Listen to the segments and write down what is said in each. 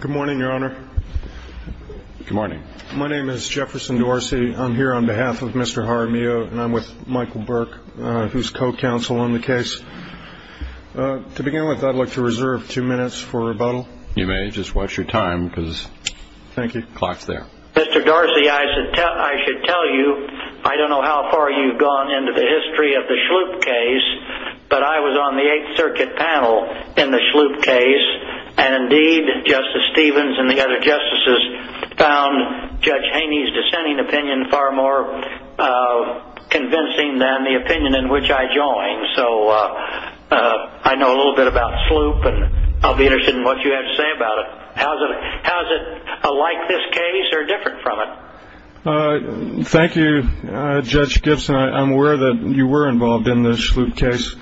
Good morning, Your Honor. Good morning. My name is Jefferson Dorsey. I'm here on behalf of Mr. Jaramillo, and I'm with Michael Burke, who's co-counsel on the case. To begin with, I'd like to reserve two minutes for rebuttal. You may. Just watch your time, because the clock's there. Mr. Dorsey, I should tell you, I don't know how far you've gone into the history of the Schlupe case, but I was on the Eighth Circuit panel in the Schlupe case, and indeed Justice Stevens and the other justices found Judge Haney's dissenting opinion far more convincing than the opinion in which I joined. So I know a little bit about Schlupe, and I'll be interested in what you have to say about it. How is it alike this case or different from it? Thank you, Judge Gibson. I'm aware that you were involved in the Schlupe case.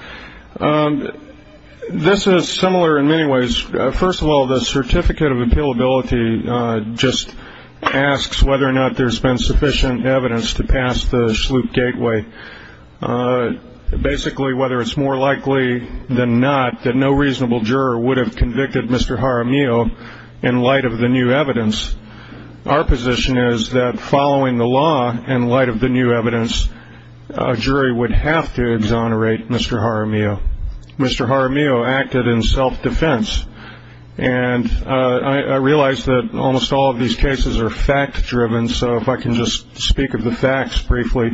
This is similar in many ways. First of all, the certificate of appealability just asks whether or not there's been sufficient evidence to pass the Schlupe gateway. Basically, whether it's more likely than not that no reasonable juror would have convicted Mr. Jaramillo in light of the new evidence. Our position is that following the law, in light of the new evidence, a jury would have to exonerate Mr. Jaramillo. Mr. Jaramillo acted in self-defense, and I realize that almost all of these cases are fact-driven, so if I can just speak of the facts briefly.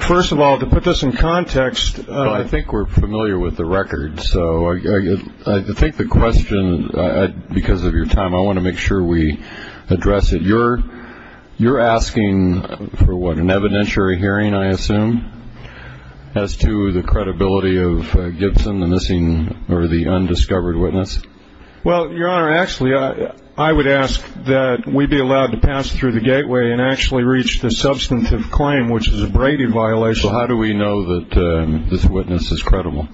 First of all, to put this in context. I think we're familiar with the record, so I think the question, because of your time, I want to make sure we address it. You're asking for what, an evidentiary hearing, I assume, as to the credibility of Gibson, the missing or the undiscovered witness? Well, Your Honor, actually, I would ask that we be allowed to pass through the gateway and actually reach the substantive claim, which is a Brady violation. So how do we know that this witness is credible?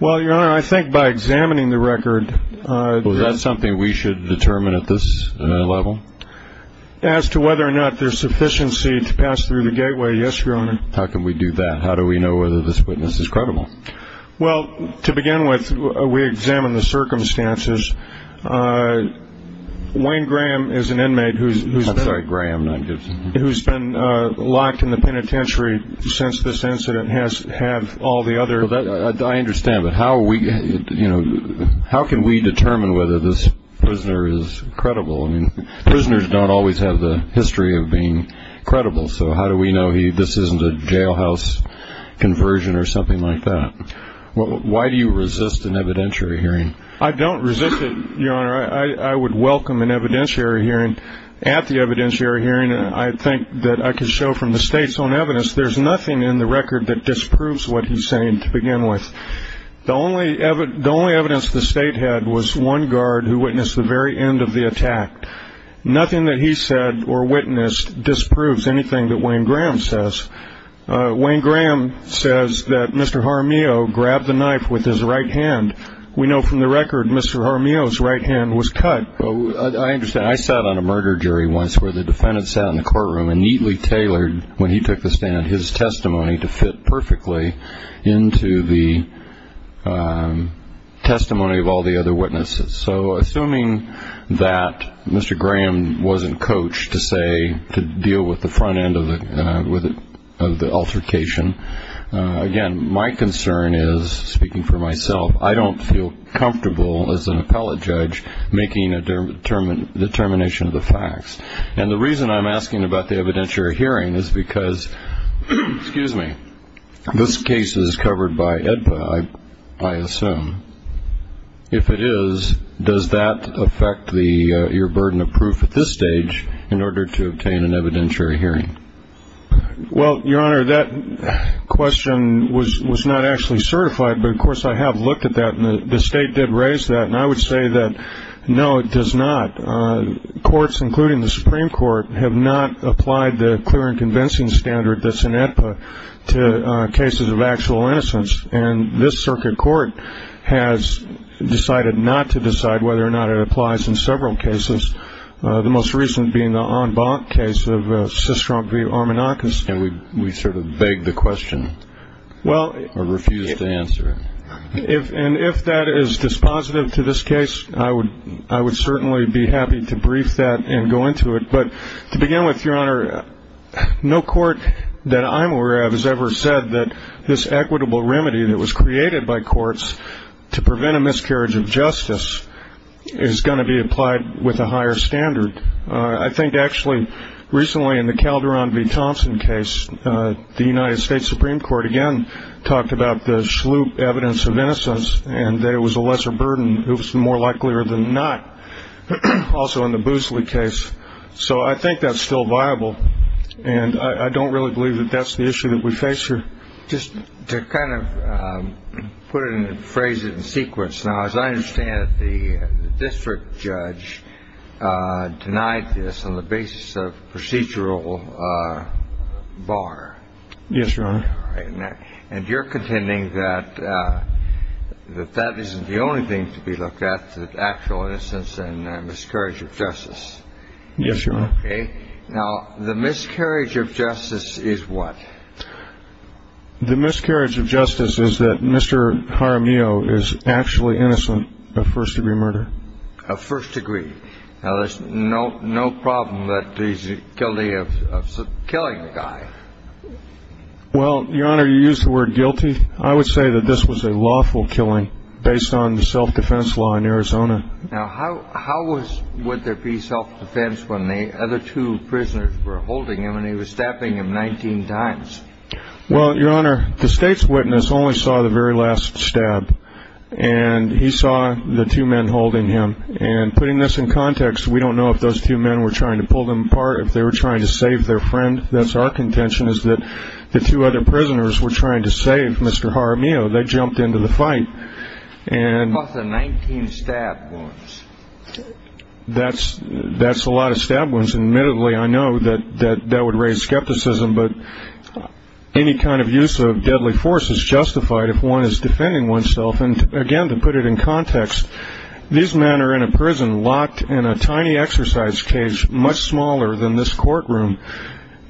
Well, Your Honor, I think by examining the record. Well, is that something we should determine at this level? As to whether or not there's sufficiency to pass through the gateway, yes, Your Honor. How can we do that? How do we know whether this witness is credible? Well, to begin with, we examine the circumstances. Wayne Graham is an inmate who's been locked in the penitentiary since this incident has had all the other. Well, I understand, but how can we determine whether this prisoner is credible? Prisoners don't always have the history of being credible, so how do we know this isn't a jailhouse conversion or something like that? Why do you resist an evidentiary hearing? I don't resist it, Your Honor. I would welcome an evidentiary hearing. At the evidentiary hearing, I think that I can show from the state's own evidence there's nothing in the record that disproves what he's saying to begin with. The only evidence the state had was one guard who witnessed the very end of the attack. Nothing that he said or witnessed disproves anything that Wayne Graham says. Wayne Graham says that Mr. Jaramillo grabbed the knife with his right hand. We know from the record Mr. Jaramillo's right hand was cut. I understand. I sat on a murder jury once where the defendant sat in the courtroom and neatly tailored, when he took the stand, his testimony to fit perfectly into the testimony of all the other witnesses. So assuming that Mr. Graham wasn't coached to deal with the front end of the altercation, again, my concern is, speaking for myself, I don't feel comfortable as an appellate judge making a determination of the facts. And the reason I'm asking about the evidentiary hearing is because this case is covered by AEDPA, I assume. If it is, does that affect your burden of proof at this stage in order to obtain an evidentiary hearing? Well, Your Honor, that question was not actually certified, but, of course, I have looked at that and the State did raise that. And I would say that, no, it does not. Courts, including the Supreme Court, have not applied the clear and convincing standard that's in AEDPA to cases of actual innocence. And this circuit court has decided not to decide whether or not it applies in several cases, the most recent being the En Banc case of Sistrom v. Armanakis. And we sort of beg the question or refuse to answer it. And if that is dispositive to this case, I would certainly be happy to brief that and go into it. But to begin with, Your Honor, no court that I'm aware of has ever said that this equitable remedy that was created by courts to prevent a miscarriage of justice is going to be applied with a higher standard. I think, actually, recently in the Calderon v. Thompson case, the United States Supreme Court again talked about the sloop evidence of innocence and that it was a lesser burden, it was more likelier than not. Also in the Boosley case. So I think that's still viable. And I don't really believe that that's the issue that we face here. Just to kind of put it and phrase it in sequence. Now, as I understand it, the district judge denied this on the basis of procedural bar. Yes, Your Honor. And you're contending that that isn't the only thing to be looked at, the actual innocence and miscarriage of justice. Yes, Your Honor. Okay. Now, the miscarriage of justice is what? The miscarriage of justice is that Mr. Jaramillo is actually innocent of first-degree murder. Of first degree. Now, there's no problem that he's guilty of killing a guy. Well, Your Honor, you used the word guilty. I would say that this was a lawful killing based on the self-defense law in Arizona. Now, how would there be self-defense when the other two prisoners were holding him and he was stabbing him 19 times? Well, Your Honor, the state's witness only saw the very last stab. And he saw the two men holding him. And putting this in context, we don't know if those two men were trying to pull them apart, if they were trying to save their friend. That's our contention is that the two other prisoners were trying to save Mr. Jaramillo. They jumped into the fight. Plus the 19 stab wounds. That's a lot of stab wounds. Admittedly, I know that that would raise skepticism, but any kind of use of deadly force is justified if one is defending oneself. And, again, to put it in context, these men are in a prison locked in a tiny exercise cage much smaller than this courtroom.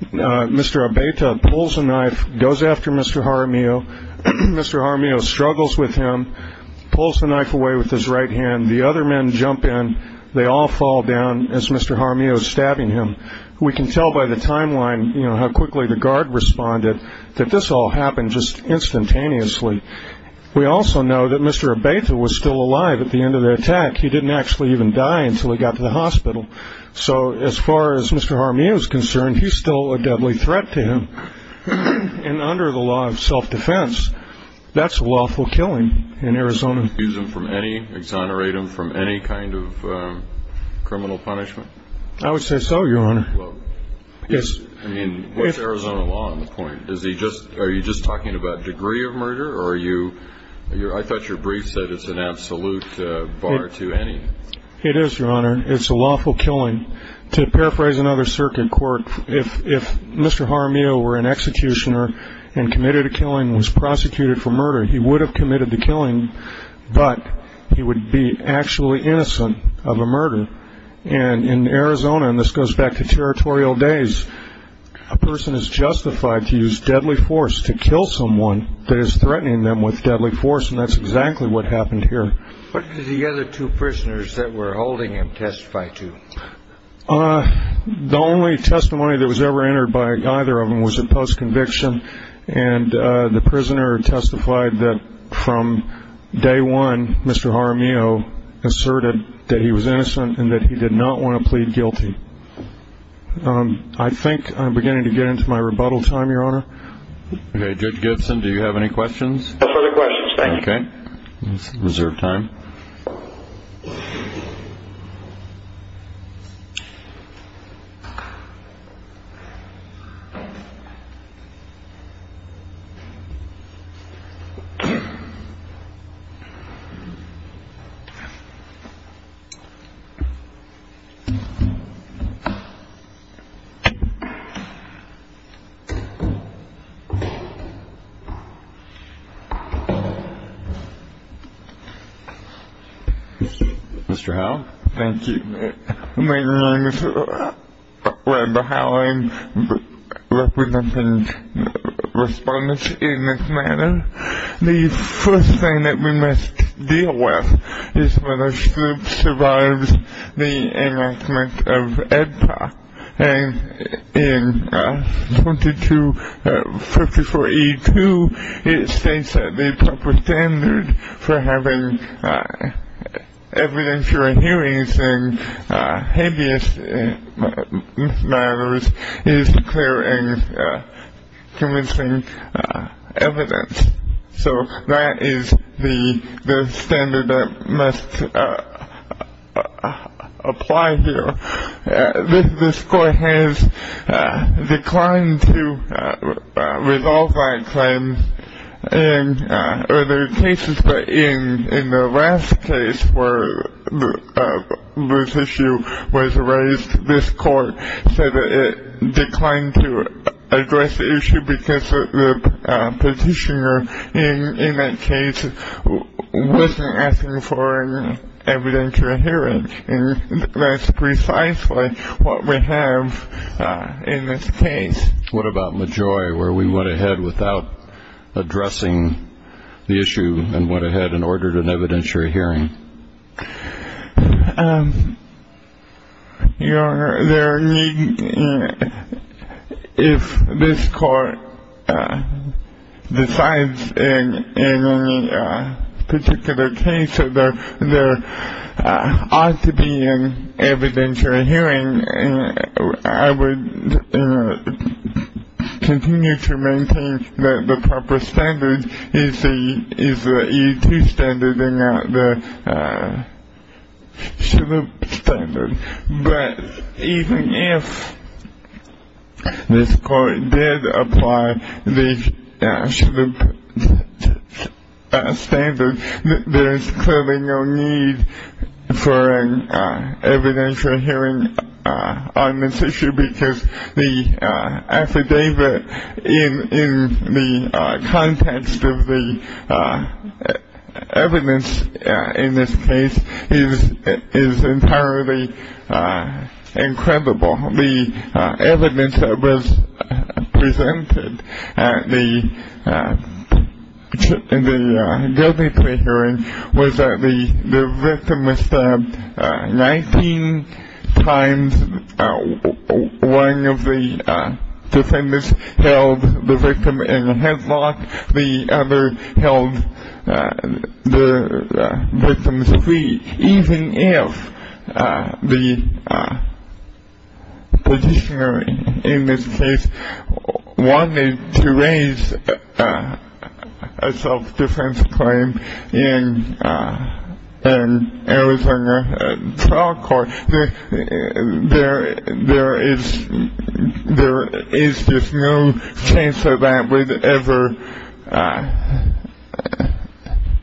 Mr. Abeyta pulls a knife, goes after Mr. Jaramillo. Mr. Jaramillo struggles with him, pulls the knife away with his right hand. The other men jump in. They all fall down as Mr. Jaramillo is stabbing him. We can tell by the timeline how quickly the guard responded that this all happened just instantaneously. We also know that Mr. Abeyta was still alive at the end of the attack. He didn't actually even die until he got to the hospital. So as far as Mr. Jaramillo is concerned, he's still a deadly threat to him. And under the law of self-defense, that's a lawful killing in Arizona. Excuse him from any, exonerate him from any kind of criminal punishment? I would say so, Your Honor. I mean, what's Arizona law on the point? Are you just talking about degree of murder? I thought your brief said it's an absolute bar to any. It is, Your Honor. It's a lawful killing. To paraphrase another circuit court, if Mr. Jaramillo were an executioner and committed a killing and was prosecuted for murder, he would have committed the killing, but he would be actually innocent of a murder. And in Arizona, and this goes back to territorial days, a person is justified to use deadly force to kill someone that is threatening them with deadly force, and that's exactly what happened here. What did the other two prisoners that were holding him testify to? The only testimony that was ever entered by either of them was a post-conviction, and the prisoner testified that from day one Mr. Jaramillo asserted that he was innocent and that he did not want to plead guilty. I think I'm beginning to get into my rebuttal time, Your Honor. Okay, Judge Gibson, do you have any questions? No further questions, thank you. Okay, let's reserve time. Mr. Howe? Thank you. My name is Robert Howe. I'm representing respondents in this matter. The first thing that we must deal with is whether Snoop survives the enactment of AEDPA. And in 2254E2, it states that the proper standard for having evidentiary hearings in habeas matters is clear and convincing evidence. So that is the standard that must apply here. This court has declined to resolve that claim in other cases, but in the last case where this issue was raised, this court said that it declined to address the issue because the petitioner in that case wasn't asking for an evidentiary hearing. And that's precisely what we have in this case. What about Majoy, where we went ahead without addressing the issue and went ahead and ordered an evidentiary hearing? Your Honor, if this court decides in any particular case that there ought to be an evidentiary hearing, I would continue to maintain that the proper standard is the E2 standard and not the Snoop standard. But even if this court did apply the Snoop standard, there is clearly no need for an evidentiary hearing on this issue because the affidavit in the context of the evidence in this case is entirely incredible. The evidence that was presented in the guilty plea hearing was that the victim was stabbed 19 times. One of the defendants held the victim in a headlock. The other held the victim's feet. Even if the petitioner in this case wanted to raise a self-defense claim in Arizona trial court, there is just no chance that that would ever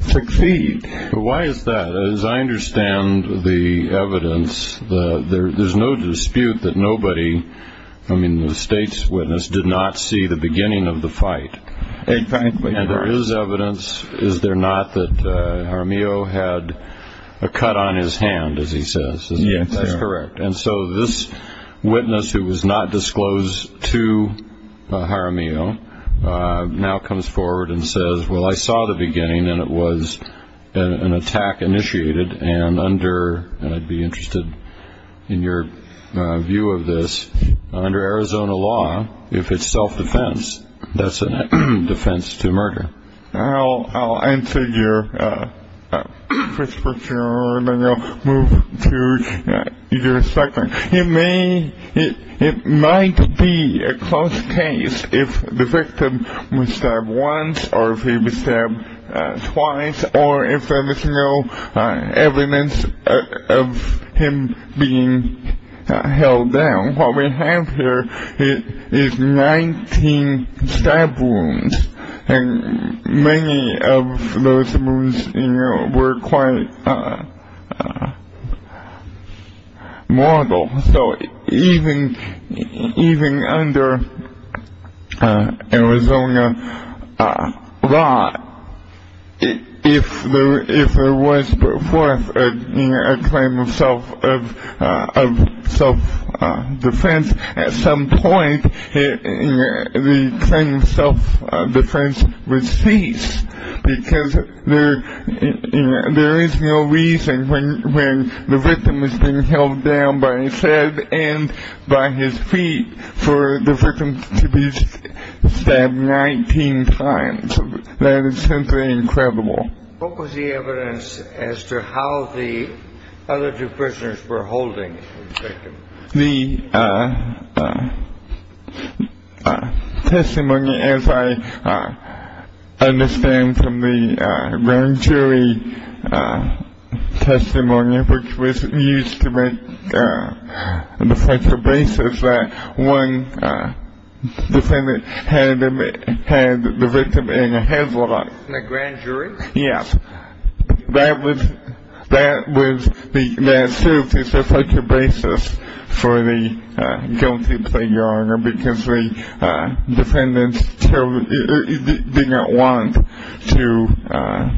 succeed. Why is that? As I understand the evidence, there's no dispute that nobody, I mean the state's witness, did not see the beginning of the fight. Exactly. And there is evidence. Is there not that Jaramillo had a cut on his hand, as he says? Yes. That's correct. And so this witness who was not disclosed to Jaramillo now comes forward and says, well, I saw the beginning and it was an attack initiated and under, and I'd be interested in your view of this, under Arizona law, if it's self-defense, that's a defense to murder. I'll answer your first question and then I'll move to your second. It may, it might be a close case if the victim was stabbed once or if he was stabbed twice or if there is no evidence of him being held down. What we have here is 19 stab wounds and many of those wounds were quite mortal. So even under Arizona law, if there was put forth a claim of self-defense, at some point the claim of self-defense would cease because there is no reason when the victim was being held down by his head and by his feet for the victim to be stabbed 19 times. That is simply incredible. What was the evidence as to how the other two prisoners were holding the victim? The testimony, as I understand from the grand jury testimony, which was used to make the factual basis that one defendant had the victim in a headlock. In a grand jury? Yes. That was, that served as a factual basis for the guilty plea order because the defendants didn't want to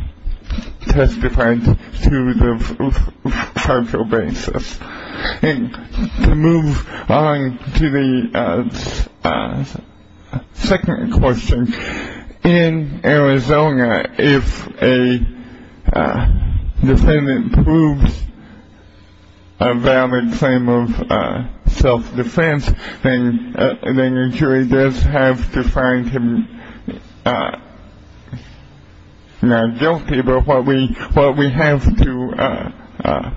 testify to the factual basis. To move on to the second question. In Arizona, if a defendant proves a valid claim of self-defense, then the jury does have to find him not guilty. But what we have to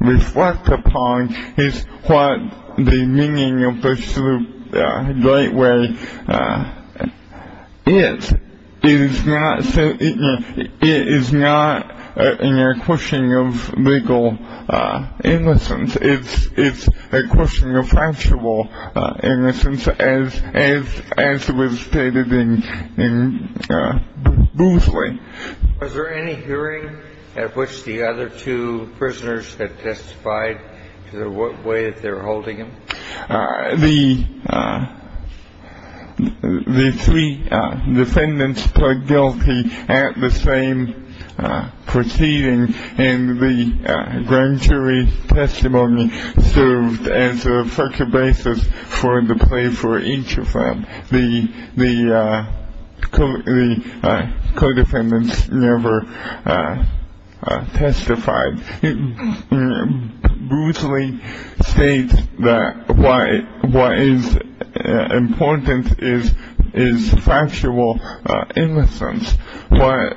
reflect upon is what the meaning of the great way is. It is not a question of legal innocence. It is a question of factual innocence, as was stated in Boothway. Was there any hearing at which the other two prisoners had testified to the way that they were holding him? The three defendants pled guilty at the same proceeding, and the grand jury testimony served as a factual basis for the plea for each of them. The co-defendants never testified. Boothway states that what is important is factual innocence. What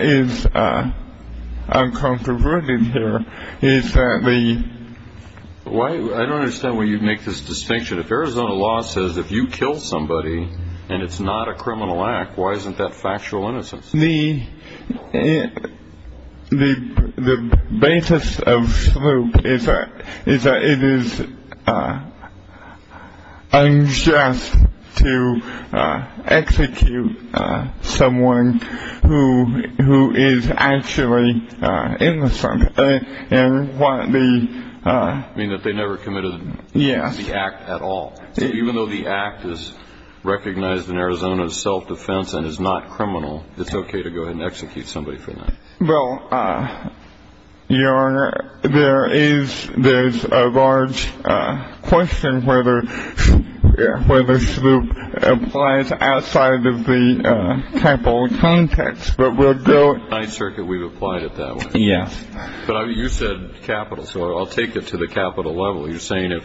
is uncontroverted here is that the... I don't understand why you make this distinction. If Arizona law says if you kill somebody and it's not a criminal act, why isn't that factual innocence? The basis of sloop is that it is unjust to execute someone who is actually innocent. You mean that they never committed the act at all? Yes. So even though the act is recognized in Arizona as self-defense and is not criminal, it's okay to go ahead and execute somebody for that? Well, Your Honor, there is a large question whether sloop applies outside of the capital context. But we'll go... In the Ninth Circuit, we've applied it that way. Yes. But you said capital, so I'll take it to the capital level. You're saying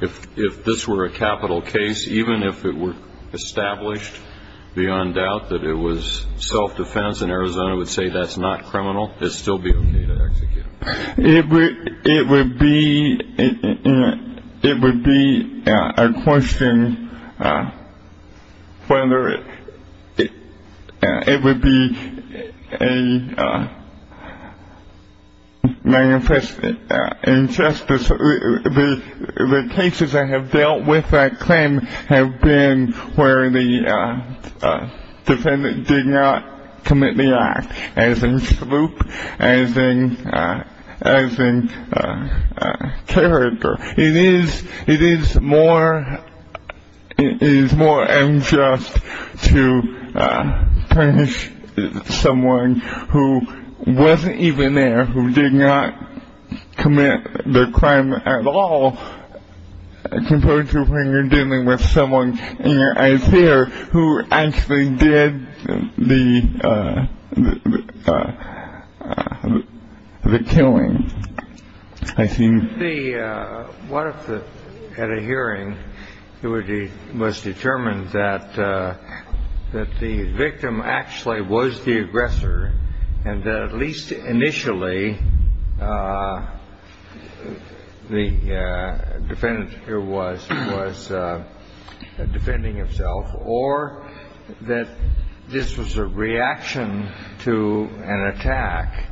if this were a capital case, even if it were established beyond doubt that it was self-defense and Arizona would say that's not criminal, it would still be okay to execute? It would be a question whether it would be a manifest injustice. The cases that have dealt with that claim have been where the defendant did not commit the act, as in sloop, as in character. It is more unjust to punish someone who wasn't even there, who did not commit the crime at all, as opposed to when you're dealing with someone in your eyes here who actually did the killing. I think... What if at a hearing it was determined that the victim actually was the aggressor and that at least initially the defendant here was was defending himself or that this was a reaction to an attack?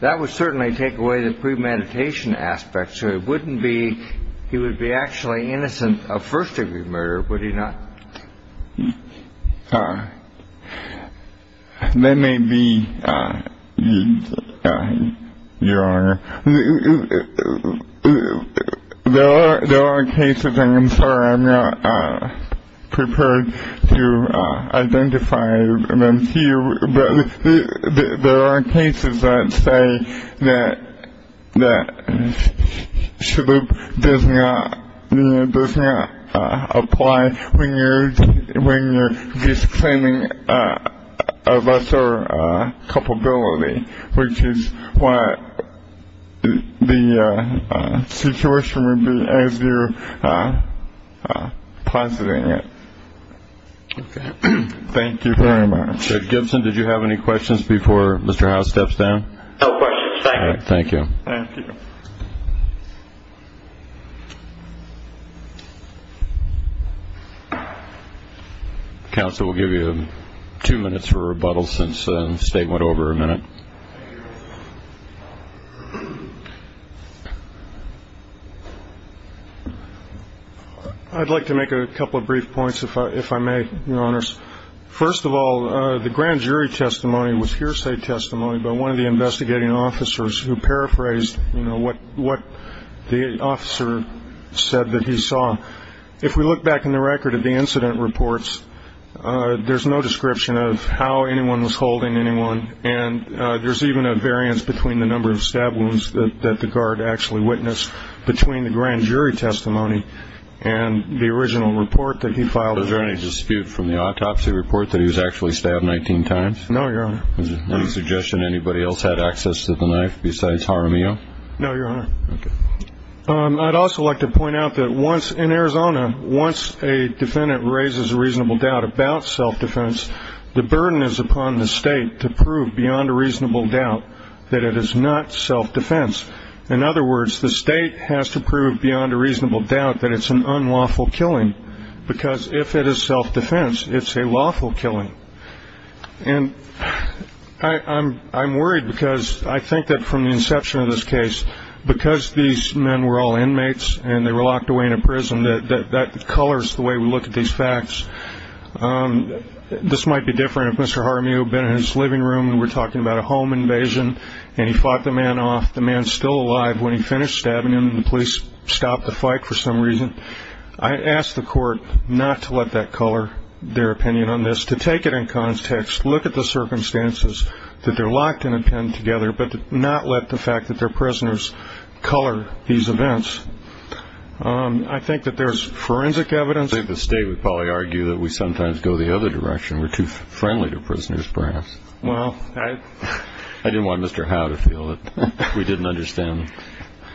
That would certainly take away the premeditation aspect. So it wouldn't be he would be actually innocent of first degree murder, would he not? That may be your... There are cases, and I'm sorry I'm not prepared to identify them to you, but there are cases that say that sloop does not apply when you're just claiming a lesser culpability, which is what the situation would be as you're positing it. Okay. Thank you very much. Mr. Gibson, did you have any questions before Mr. Howe steps down? No questions. Thank you. Thank you. Counsel will give you two minutes for rebuttal since the statement went over a minute. I'd like to make a couple of brief points, if I may, Your Honors. First of all, the grand jury testimony was hearsay testimony by one of the investigating officers who paraphrased what the officer said that he saw. If we look back in the record at the incident reports, there's no description of how anyone was holding anyone, and there's even a variance between the number of stab wounds that the guard actually witnessed between the grand jury testimony and the original report that he filed. Was there any dispute from the autopsy report that he was actually stabbed 19 times? No, Your Honor. Any suggestion anybody else had access to the knife besides Jaramillo? No, Your Honor. Okay. I'd also like to point out that in Arizona, once a defendant raises a reasonable doubt about self-defense, the burden is upon the state to prove beyond a reasonable doubt that it is not self-defense. In other words, the state has to prove beyond a reasonable doubt that it's an unlawful killing because if it is self-defense, it's a lawful killing. And I'm worried because I think that from the inception of this case, because these men were all inmates and they were locked away in a prison, that that colors the way we look at these facts. This might be different if Mr. Jaramillo had been in his living room and we're talking about a home invasion and he fought the man off. The man's still alive. When he finished stabbing him, the police stopped the fight for some reason. I ask the court not to let that color their opinion on this, to take it in context, look at the circumstances that they're locked in a pen together, but not let the fact that they're prisoners color these events. I think that there's forensic evidence. I think the state would probably argue that we sometimes go the other direction. We're too friendly to prisoners perhaps. Well, I didn't want Mr. Howe to feel that we didn't understand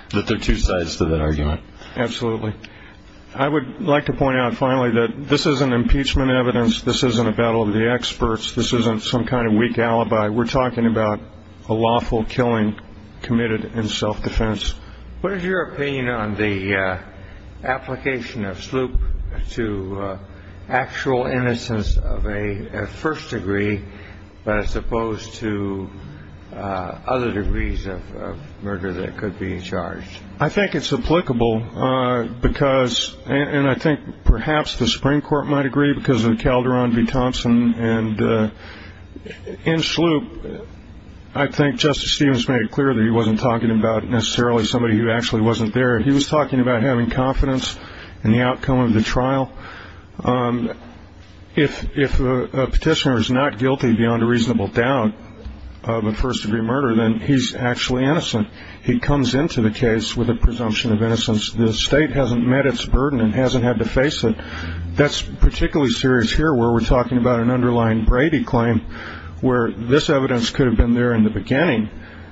that there are two sides to that argument. Absolutely. I would like to point out finally that this isn't impeachment evidence. This isn't a battle of the experts. This isn't some kind of weak alibi. We're talking about a lawful killing committed in self-defense. What is your opinion on the application of sloop to actual innocence of a first degree as opposed to other degrees of murder that could be charged? I think it's applicable because, and I think perhaps the Supreme Court might agree, because of Calderon v. Thompson and in sloop, I think Justice Stevens made it clear that he wasn't talking about necessarily somebody who actually wasn't there. He was talking about having confidence in the outcome of the trial. If a petitioner is not guilty beyond a reasonable doubt of a first degree murder, then he's actually innocent. He comes into the case with a presumption of innocence. The state hasn't met its burden and hasn't had to face it. That's particularly serious here where we're talking about an underlying Brady claim where this evidence could have been there in the beginning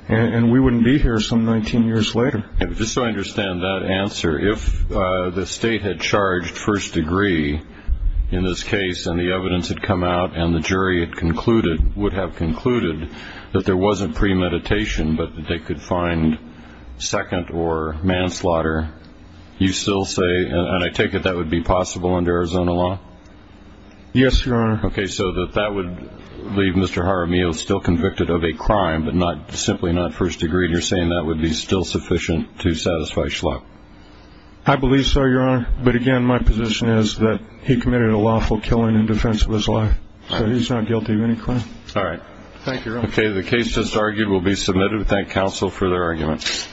and we wouldn't be here some 19 years later. Just so I understand that answer, if the state had charged first degree in this case and the evidence had come out and the jury had concluded, would have concluded, that there wasn't premeditation but that they could find second or manslaughter, you still say, and I take it that would be possible under Arizona law? Yes, Your Honor. Okay, so that that would leave Mr. Jaramillo still convicted of a crime but simply not first degree, and you're saying that would be still sufficient to satisfy Schlock? I believe so, Your Honor. But again, my position is that he committed a lawful killing in defense of his life. So he's not guilty of any crime. All right. Thank you, Your Honor. Okay, the case just argued will be submitted. We thank counsel for their arguments.